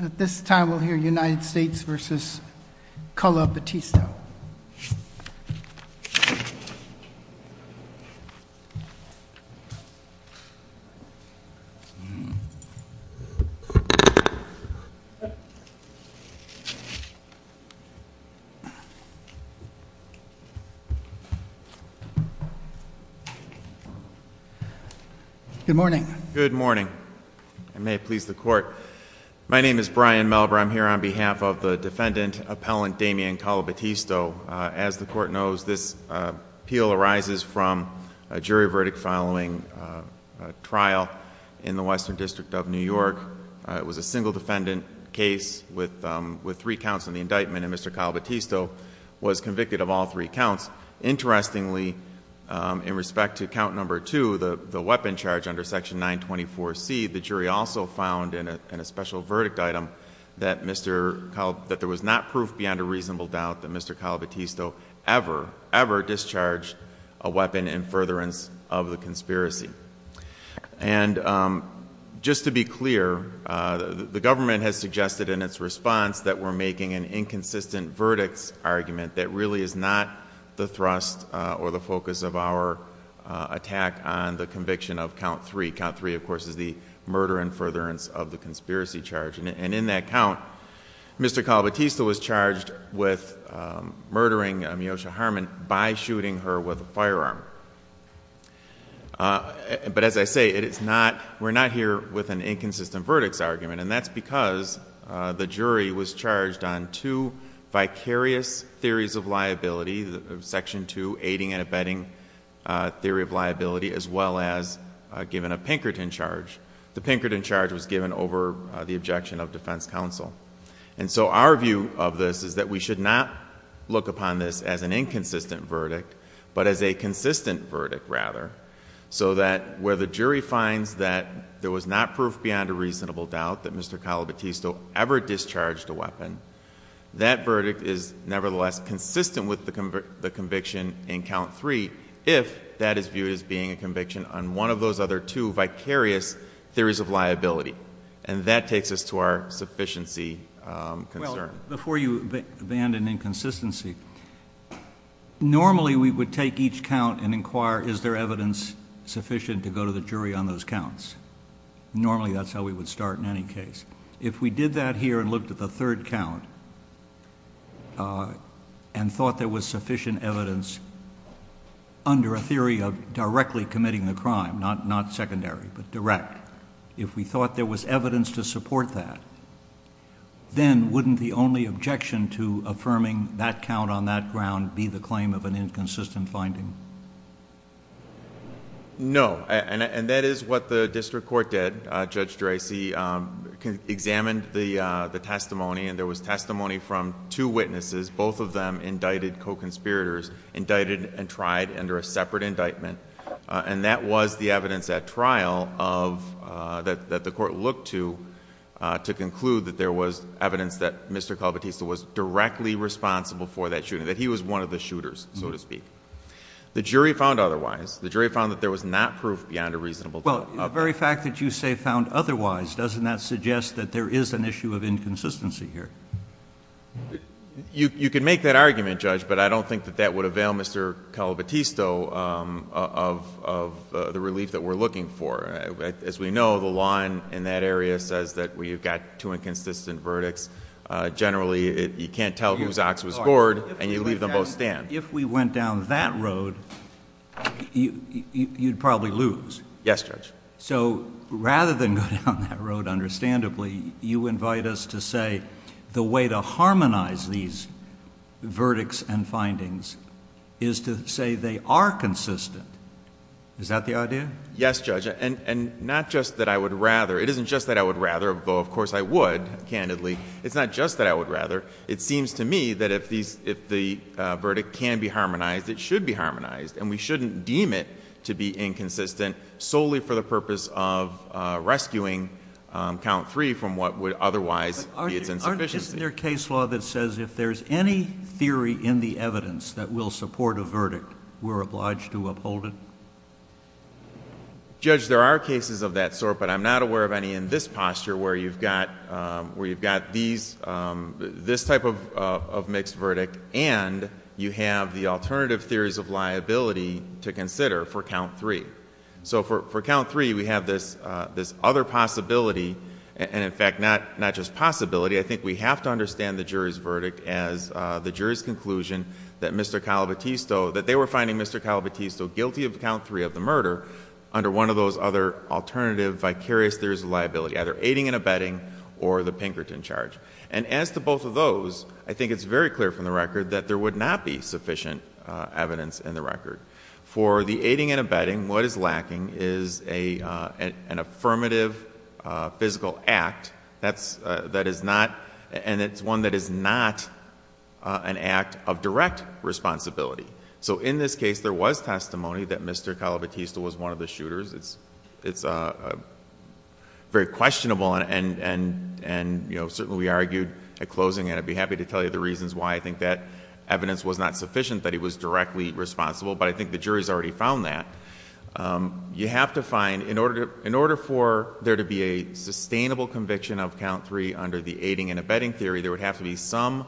At this time, we'll hear United States v. Colo Battista. Good morning. Good morning. I may please the court. My name is Brian Melber. I'm here on behalf of the defendant, Appellant Damian Colo Battista. As the court knows, this appeal arises from a jury verdict following a trial in the Western District of New York. It was a single defendant case with three counts in the indictment, and Mr. Colo Battista was convicted of all three counts. Interestingly, in respect to count number two, the weapon charge under section 924C, the jury also found in a special verdict item that there was not proof beyond a reasonable doubt that Mr. Colo Battista ever, ever discharged a weapon in furtherance of the conspiracy. And just to be clear, the government has suggested in its response that we're making an inconsistent verdicts argument that really is not the thrust or the focus of our attack on the conviction of count three. Count three, of course, is the murder in furtherance of the conspiracy charge. And in that count, Mr. Colo Battista was charged with murdering Miosha Harmon by shooting her with a firearm. But as I say, we're not here with an inconsistent verdicts argument. And that's because the jury was charged on two vicarious theories of liability, section two, aiding and abetting theory of liability, as well as given a Pinkerton charge. The Pinkerton charge was given over the objection of defense counsel. And so our view of this is that we should not look upon this as an inconsistent verdict, but as a consistent verdict rather. So that where the jury finds that there was not proof beyond a reasonable doubt that Mr. Colo Battista was guilty of the conviction in count three, if that is viewed as being a conviction on one of those other two vicarious theories of liability. And that takes us to our sufficiency concern. Well, before you abandon inconsistency, normally we would take each count and inquire is there evidence sufficient to go to the jury on those counts. Normally that's how we would start in any case. If we did that here and looked at the third count and thought there was sufficient evidence under a theory of directly committing the crime, not secondary, but direct. If we thought there was evidence to support that, then wouldn't the only objection to affirming that count on that ground be the claim of an inconsistent finding? No, and that is what the district court did. Judge Dracey examined the testimony and there was testimony from two witnesses. Both of them indicted co-conspirators, indicted and tried under a separate indictment. And that was the evidence at trial that the court looked to to conclude that there was evidence that Mr. Colo Battista was directly responsible for that shooting. That he was one of the shooters, so to speak. The jury found otherwise. The jury found that there was not proof beyond a reasonable doubt. Well, the very fact that you say found otherwise, doesn't that suggest that there is an issue of inconsistency here? You can make that argument, Judge, but I don't think that that would avail Mr. Colo Battista of the relief that we're looking for. As we know, the law in that area says that we've got two inconsistent verdicts. Generally, you can't tell whose ox was bored and you leave them both stand. If we went down that road, you'd probably lose. Yes, Judge. So, rather than go down that road, understandably, you invite us to say the way to harmonize these verdicts and findings is to say they are consistent. Is that the idea? Yes, Judge, and not just that I would rather. It isn't just that I would rather, though of course I would, candidly. It's not just that I would rather. It seems to me that if the verdict can be harmonized, it should be harmonized. And we shouldn't deem it to be inconsistent solely for the purpose of rescuing count three from what would otherwise be its insufficiency. Isn't there a case law that says if there's any theory in the evidence that will support a verdict, we're obliged to uphold it? Judge, there are cases of that sort, but I'm not aware of any in this posture where you've got this type of mixed verdict. And you have the alternative theories of liability to consider for count three. So for count three, we have this other possibility, and in fact, not just possibility. I think we have to understand the jury's verdict as the jury's conclusion that Mr. Calabitista, guilty of count three of the murder, under one of those other alternative vicarious theories of liability, either aiding and abetting or the Pinkerton charge. And as to both of those, I think it's very clear from the record that there would not be sufficient evidence in the record. For the aiding and abetting, what is lacking is an affirmative physical act. That is not, and it's one that is not an act of direct responsibility. So in this case, there was testimony that Mr. Calabitista was one of the shooters. It's very questionable, and certainly we argued at closing. And I'd be happy to tell you the reasons why I think that evidence was not sufficient, that he was directly responsible. But I think the jury's already found that. You have to find, in order for there to be a sustainable conviction of count three under the aiding and abetting theory, there would have to be some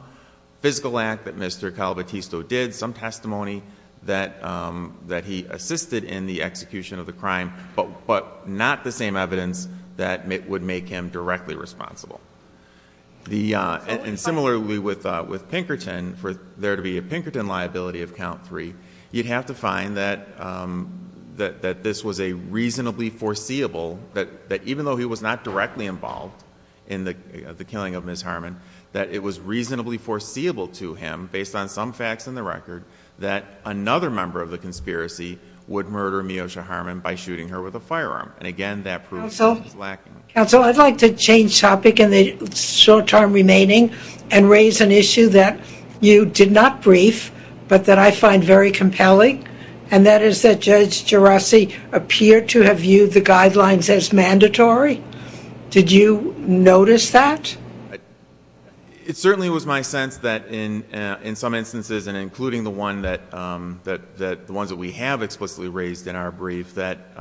physical act that Mr. Calabitista did, some testimony that he assisted in the execution of the crime. But not the same evidence that would make him directly responsible. And similarly with Pinkerton, for there to be a Pinkerton liability of count three, you'd have to find that this was a reasonably foreseeable, that even though he was not directly involved in the killing of Ms. Harmon, that it was reasonably foreseeable to him, based on some facts in the record, that another member of the conspiracy would murder Meosha Harmon by shooting her with a firearm. And again, that proves that it's lacking. Council, I'd like to change topic in the short time remaining and raise an issue that you did not brief, but that I find very compelling. And that is that Judge Geraci appeared to have viewed the guidelines as mandatory. Did you notice that? It certainly was my sense that in some instances, and including the ones that we have explicitly raised in our brief, that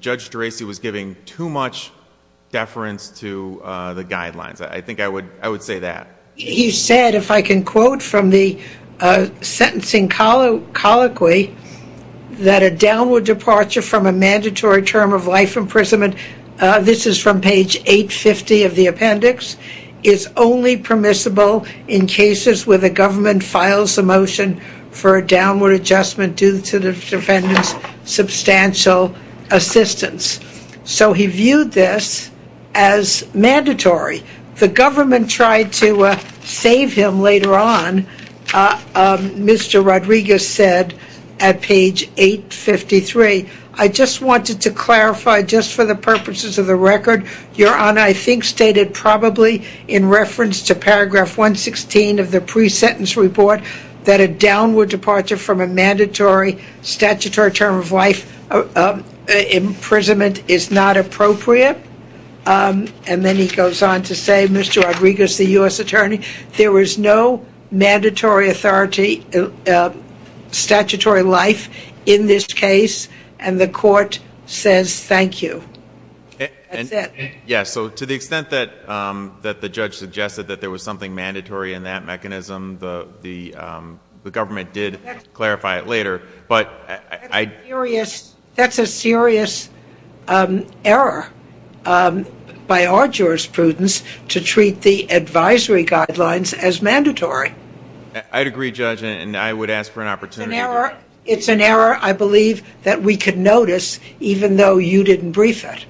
Judge Geraci was giving too much deference to the guidelines. I think I would say that. He said, if I can quote from the sentencing colloquy, that a downward departure from a mandatory term of life imprisonment, this is from page 850 of the appendix, is only permissible in cases where the government files a motion for a downward adjustment due to the defendant's substantial assistance. So he viewed this as mandatory. The government tried to save him later on, Mr. Rodriguez said at page 853. I just wanted to clarify, just for the purposes of the record, your honor, I think stated probably in reference to paragraph 116 of the pre-sentence report, that a downward departure from a mandatory statutory term of life imprisonment is not appropriate. And then he goes on to say, Mr. Rodriguez, the US attorney, there was no mandatory authority, statutory life, in this case, and the court says thank you, that's it. Yeah, so to the extent that the judge suggested that there was something mandatory in that mechanism, the government did clarify it later. But I- That's a serious error by our jurisprudence to treat the advisory guidelines as mandatory. I'd agree, Judge, and I would ask for an opportunity. It's an error, I believe, that we could notice, even though you didn't brief it.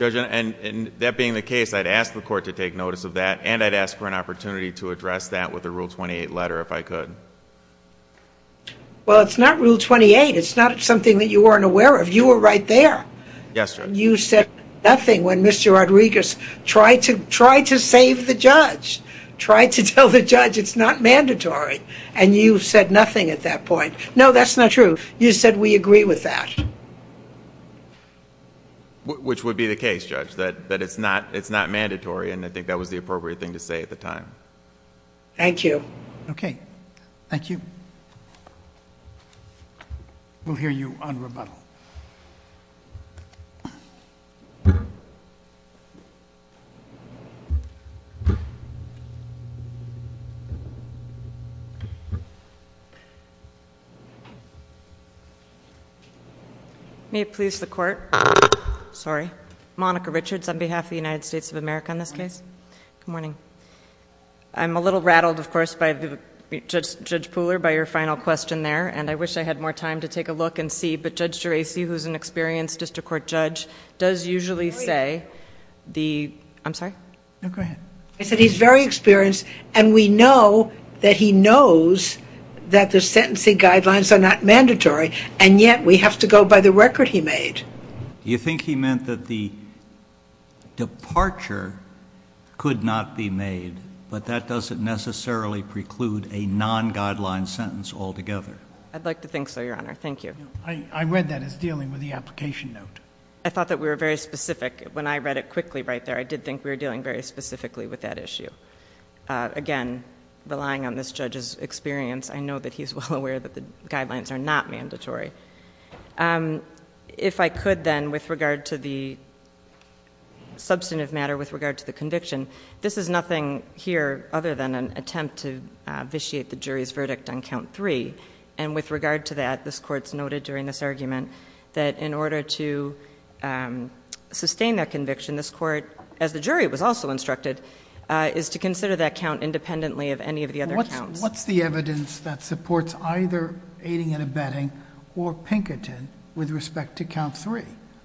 Judge, and that being the case, I'd ask the court to take notice of that, and I'd ask for an opportunity to address that with a Rule 28 letter if I could. Well, it's not Rule 28, it's not something that you weren't aware of, you were right there. Yes, Judge. You said nothing when Mr. Rodriguez tried to save the judge, tried to tell the judge it's not mandatory, and you said nothing at that point. No, that's not true, you said we agree with that. Which would be the case, Judge, that it's not mandatory, and I think that was the appropriate thing to say at the time. Thank you. Okay, thank you. We'll hear you on rebuttal. May it please the court. Sorry. Monica Richards on behalf of the United States of America in this case. Good morning. I'm a little rattled, of course, by Judge Pooler, by your final question there, and I wish I had more time to take a look and see, but Judge Geraci, who's an experienced district court judge, does usually say the, I'm sorry? No, go ahead. I said he's very experienced, and we know that he knows that the sentencing guidelines are not mandatory, and yet we have to go by the record he made. Do you think he meant that the departure could not be made, but that doesn't necessarily preclude a non-guideline sentence altogether? I'd like to think so, your honor. Thank you. I read that as dealing with the application note. I thought that we were very specific. When I read it quickly right there, I did think we were dealing very specifically with that issue. Again, relying on this judge's experience, I know that he's well aware that the guidelines are not mandatory. If I could then, with regard to the substantive matter, with regard to the conviction, this is nothing here other than an attempt to vitiate the jury's verdict on count three. And with regard to that, this court's noted during this argument that in order to sustain that conviction, this court, as the jury was also instructed, is to consider that count independently of any of the other counts. What's the evidence that supports either aiding and abetting or Pinkerton with respect to count three?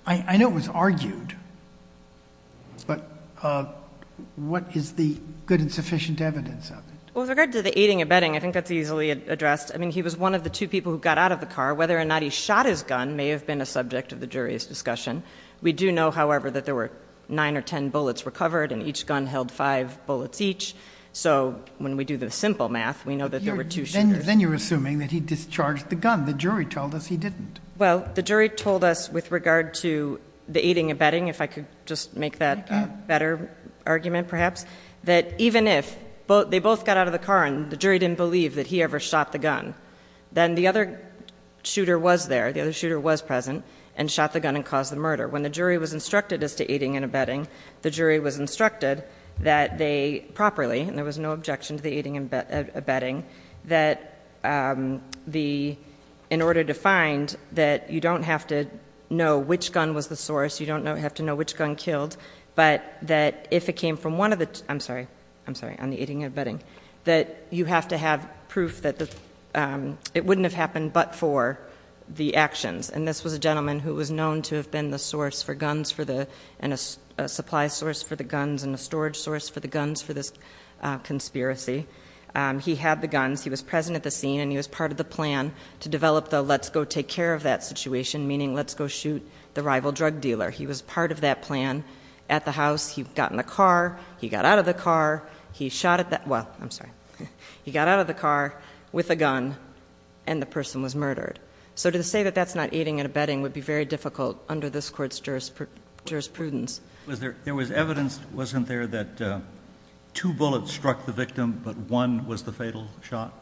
I know it was argued, but what is the good and sufficient evidence of it? Well, with regard to the aiding and abetting, I think that's easily addressed. I mean, he was one of the two people who got out of the car. Whether or not he shot his gun may have been a subject of the jury's discussion. We do know, however, that there were nine or ten bullets recovered, and each gun held five bullets each. So when we do the simple math, we know that there were two shooters. Then you're assuming that he discharged the gun. The jury told us he didn't. Well, the jury told us with regard to the aiding and abetting, if I could just make that better argument perhaps, that even if they both got out of the car and the jury didn't believe that he ever shot the gun, then the other shooter was there, the other shooter was present, and shot the gun and caused the murder. When the jury was instructed as to aiding and abetting, the jury was instructed that they properly, and there was no objection to the aiding and abetting, that in order to find that you don't have to know which gun was the source. You don't have to know which gun killed. But that if it came from one of the, I'm sorry, I'm sorry, on the aiding and abetting. That you have to have proof that it wouldn't have happened but for the actions. And this was a gentleman who was known to have been the source for guns for the, and a supply source for the guns, and a storage source for the guns for this conspiracy. He had the guns, he was present at the scene, and he was part of the plan to develop the let's go take care of that situation. Meaning let's go shoot the rival drug dealer. He was part of that plan at the house. He got in the car, he got out of the car, he shot at that, well, I'm sorry. He got out of the car with a gun and the person was murdered. So to say that that's not aiding and abetting would be very difficult under this court's jurisprudence. Was there, there was evidence, wasn't there, that two bullets struck the victim but one was the fatal shot?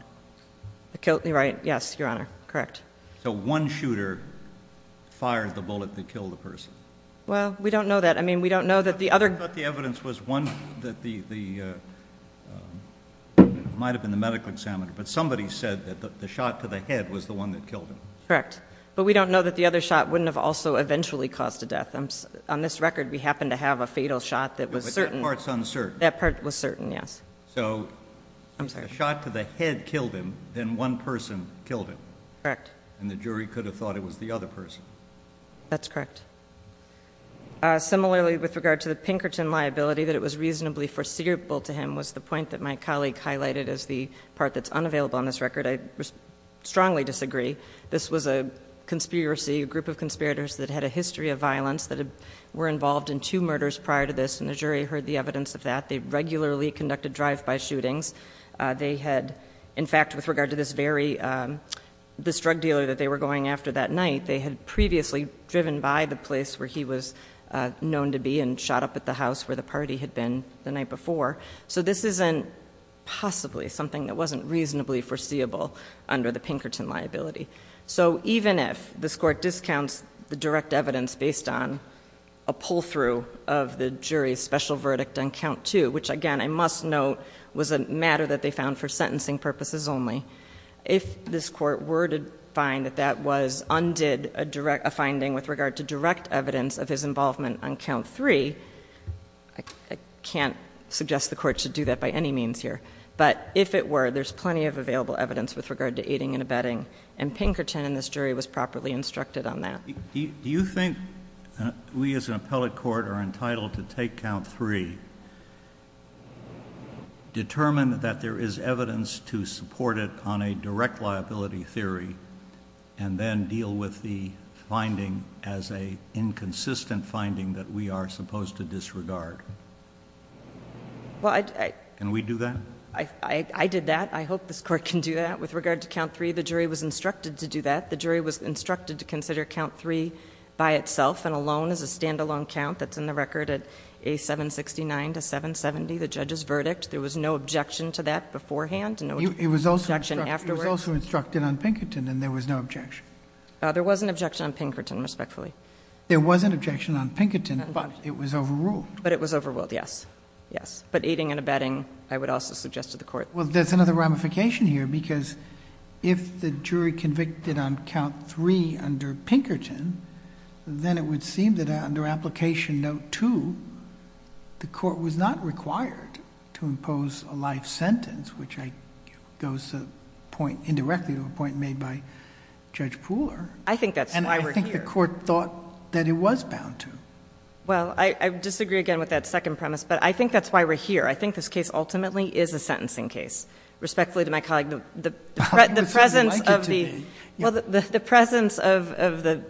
Killed, you're right, yes, your honor, correct. So one shooter fired the bullet that killed the person. Well, we don't know that. I mean, we don't know that the other- I thought the evidence was one that the, might have been the medical examiner. But somebody said that the shot to the head was the one that killed him. Correct. But we don't know that the other shot wouldn't have also eventually caused a death. On this record, we happen to have a fatal shot that was certain. But that part's uncertain. That part was certain, yes. So. I'm sorry. A shot to the head killed him, then one person killed him. Correct. And the jury could have thought it was the other person. That's correct. Similarly, with regard to the Pinkerton liability, that it was reasonably foreseeable to him was the point that my colleague highlighted as the part that's unavailable on this record. I strongly disagree. This was a conspiracy, a group of conspirators that had a history of violence that were involved in two murders prior to this. And the jury heard the evidence of that. They regularly conducted drive-by shootings. They had, in fact, with regard to this very, this drug dealer that they were going after that night, they had previously driven by the place where he was known to be and shot up at the house where the party had been the night before. So this isn't possibly something that wasn't reasonably foreseeable under the Pinkerton liability. So even if this court discounts the direct evidence based on a pull-through of the jury's special verdict on count two, which again I must note was a matter that they found for sentencing purposes only. If this court were to find that that was undid a finding with regard to direct evidence of his involvement on count three, I can't suggest the court should do that by any means here. But if it were, there's plenty of available evidence with regard to aiding and abetting. And Pinkerton and this jury was properly instructed on that. Do you think we as an appellate court are entitled to take count three, determine that there is evidence to support it on a direct liability theory, and then deal with the finding as a inconsistent finding that we are supposed to disregard? Can we do that? I did that. I hope this court can do that. With regard to count three, the jury was instructed to do that. 9 to 770, the judge's verdict, there was no objection to that beforehand, no objection afterwards. It was also instructed on Pinkerton and there was no objection. There was an objection on Pinkerton, respectfully. There was an objection on Pinkerton, but it was overruled. But it was overruled, yes. Yes, but aiding and abetting, I would also suggest to the court. Well, there's another ramification here, because if the jury convicted on count three under Pinkerton, then it would seem that under application note two, the court was not required to impose a life sentence, which goes indirectly to a point made by Judge Pooler. I think that's why we're here. And I think the court thought that it was bound to. Well, I disagree again with that second premise, but I think that's why we're here. I think this case ultimately is a sentencing case. Respectfully to my colleague, the presence of the- You seem to like it to me. Well, the presence of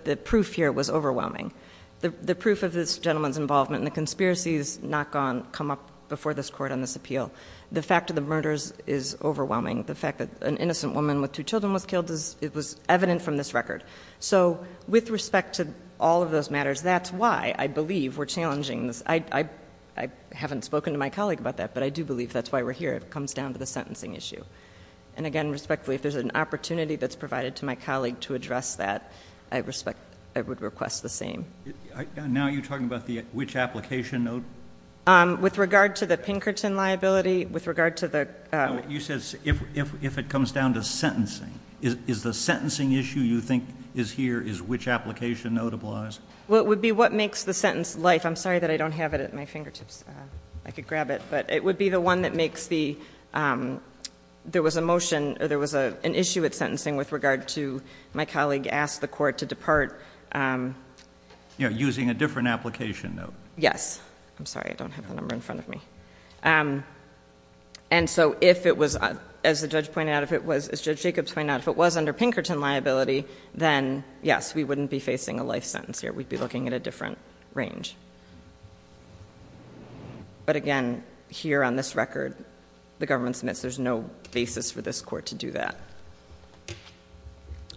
the proof here was overwhelming. The proof of this gentleman's involvement in the conspiracy has not come up before this court on this appeal. The fact of the murders is overwhelming. The fact that an innocent woman with two children was killed, it was evident from this record. So with respect to all of those matters, that's why I believe we're challenging this. I haven't spoken to my colleague about that, but I do believe that's why we're here. It comes down to the sentencing issue. And again, respectfully, if there's an opportunity that's provided to my colleague to address that, I would request the same. Now you're talking about which application note? With regard to the Pinkerton liability, with regard to the- You said, if it comes down to sentencing, is the sentencing issue you think is here, is which application notable as? Well, it would be what makes the sentence life. I'm sorry that I don't have it at my fingertips. I could grab it, but it would be the one that makes the, there was a motion, or there was an issue with sentencing with regard to my colleague asked the court to depart. Using a different application note. Yes. I'm sorry, I don't have the number in front of me. And so if it was, as Judge Jacobs pointed out, if it was under Pinkerton liability, then yes, we wouldn't be facing a life sentence here, we'd be looking at a different range. But again, here on this record, the government submits, there's no basis for this court to do that.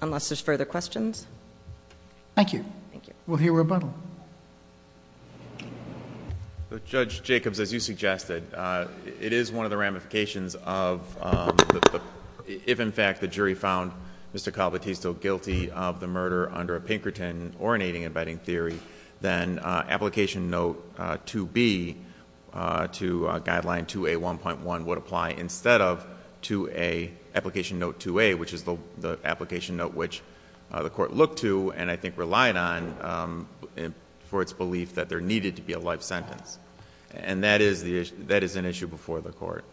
Unless there's further questions. Thank you. We'll hear rebuttal. Judge Jacobs, as you suggested, it is one of the ramifications of the, if in fact the jury found Mr. Calvertis still guilty of the murder under a Pinkerton or alternating abetting theory, then application note 2B to guideline 2A1.1 would apply instead of 2A, application note 2A, which is the application note which the court looked to and I think relied on for its belief that there needed to be a life sentence, and that is an issue before the court.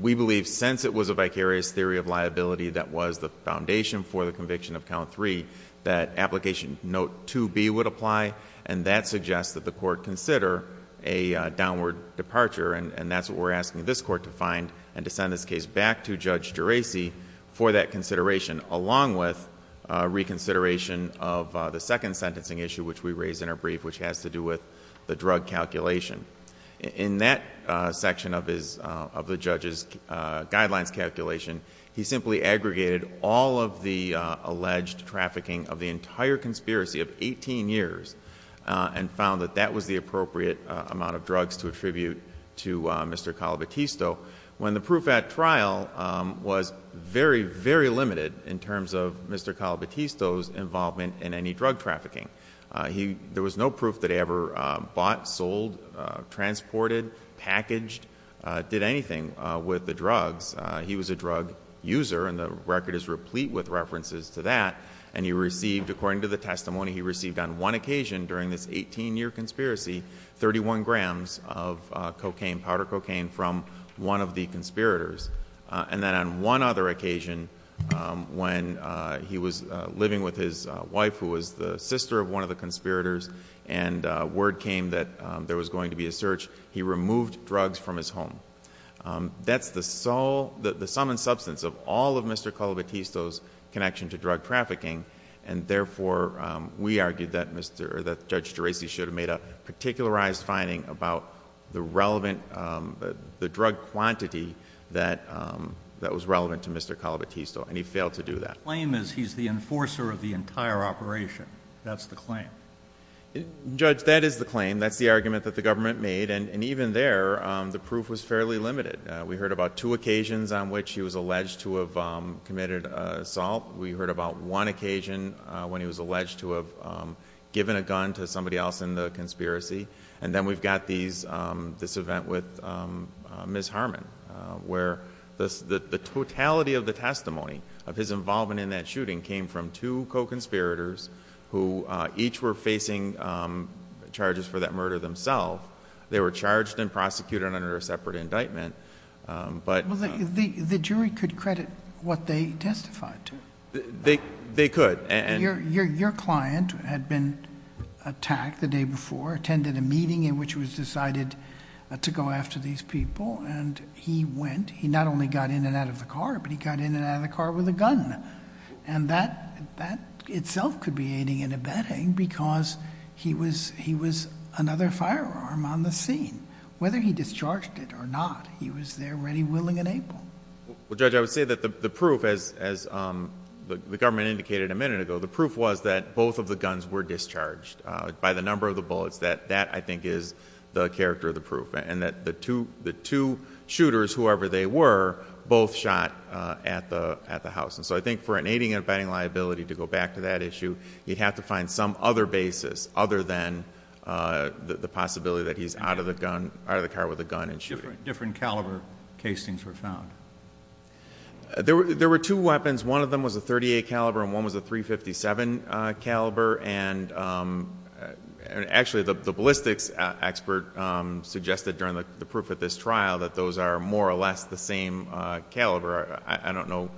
We believe since it was a vicarious theory of liability that was the foundation for the conviction of count three, that application note 2B would apply and that suggests that the court consider a downward departure and that's what we're asking this court to find and to send this case back to Judge Geraci for that consideration along with reconsideration of the second sentencing issue which we raised in our brief which has to do with the drug calculation. In that section of the judge's guidelines calculation, he simply aggregated all of the alleged trafficking of the entire conspiracy of 18 years. And found that that was the appropriate amount of drugs to attribute to Mr. Calvertisto. When the proof at trial was very, very limited in terms of Mr. Calvertisto's involvement in any drug trafficking. There was no proof that he ever bought, sold, transported, packaged, did anything with the drugs. He was a drug user and the record is replete with references to that. And he received, according to the testimony he received on one occasion during this 18 year conspiracy, 31 grams of cocaine, powder cocaine from one of the conspirators. And then on one other occasion, when he was living with his wife who was the sister of one of the conspirators. And word came that there was going to be a search, he removed drugs from his home. That's the sum and substance of all of Mr. Calvertisto's connection to drug trafficking. And therefore, we argued that Judge Geraci should have made a particularized finding about the drug quantity that was relevant to Mr. Calvertisto, and he failed to do that. Claim is he's the enforcer of the entire operation, that's the claim. Judge, that is the claim, that's the argument that the government made, and even there, the proof was fairly limited. We heard about two occasions on which he was alleged to have committed assault. We heard about one occasion when he was alleged to have given a gun to somebody else in the conspiracy. And then we've got this event with Ms. Harmon. Where the totality of the testimony of his involvement in that shooting came from two co-conspirators who each were facing charges for that murder themselves. They were charged and prosecuted under a separate indictment, but- Well, the jury could credit what they testified to. They could, and- Your client had been attacked the day before, attended a meeting in which it was decided to go after these people, and he went. He not only got in and out of the car, but he got in and out of the car with a gun. And that itself could be aiding and abetting because he was another firearm on the scene. Whether he discharged it or not, he was there ready, willing, and able. Well, Judge, I would say that the proof, as the government indicated a minute ago, the proof was that both of the guns were discharged by the number of the bullets. That, I think, is the character of the proof. And that the two shooters, whoever they were, both shot at the house. So I think for an aiding and abetting liability, to go back to that issue, you'd have to find some other basis other than the possibility that he's out of the car with a gun and shooting. Different caliber casings were found. There were two weapons. One of them was a .38 caliber and one was a .357 caliber. And actually, the ballistics expert suggested during the proof of this trial that those are more or less the same caliber. I don't know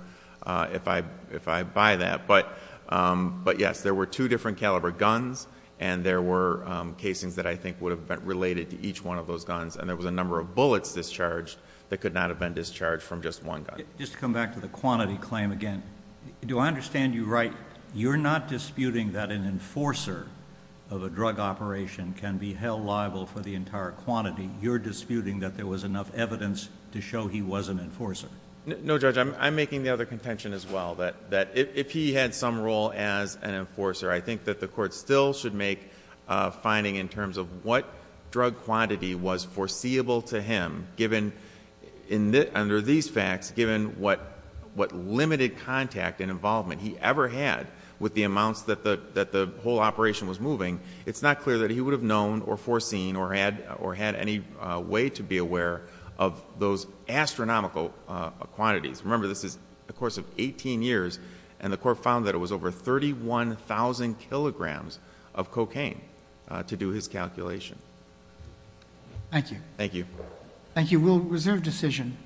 if I buy that. But yes, there were two different caliber guns and there were casings that I think would have been related to each one of those guns. And there was a number of bullets discharged that could not have been discharged from just one gun. Just to come back to the quantity claim again, do I understand you right? You're not disputing that an enforcer of a drug operation can be held liable for the entire quantity. You're disputing that there was enough evidence to show he was an enforcer. No judge, I'm making the other contention as well, that if he had some role as an enforcer, I think that the court still should make a finding in terms of what drug quantity was foreseeable to him, given under these facts, given what limited contact and involvement he ever had with the amounts that the whole operation was moving. It's not clear that he would have known or foreseen or had any way to be aware of those astronomical quantities. Remember, this is a course of 18 years and the court found that it was over 31,000 kilograms of cocaine to do his calculation. Thank you. Thank you. Thank you. We'll reserve decision.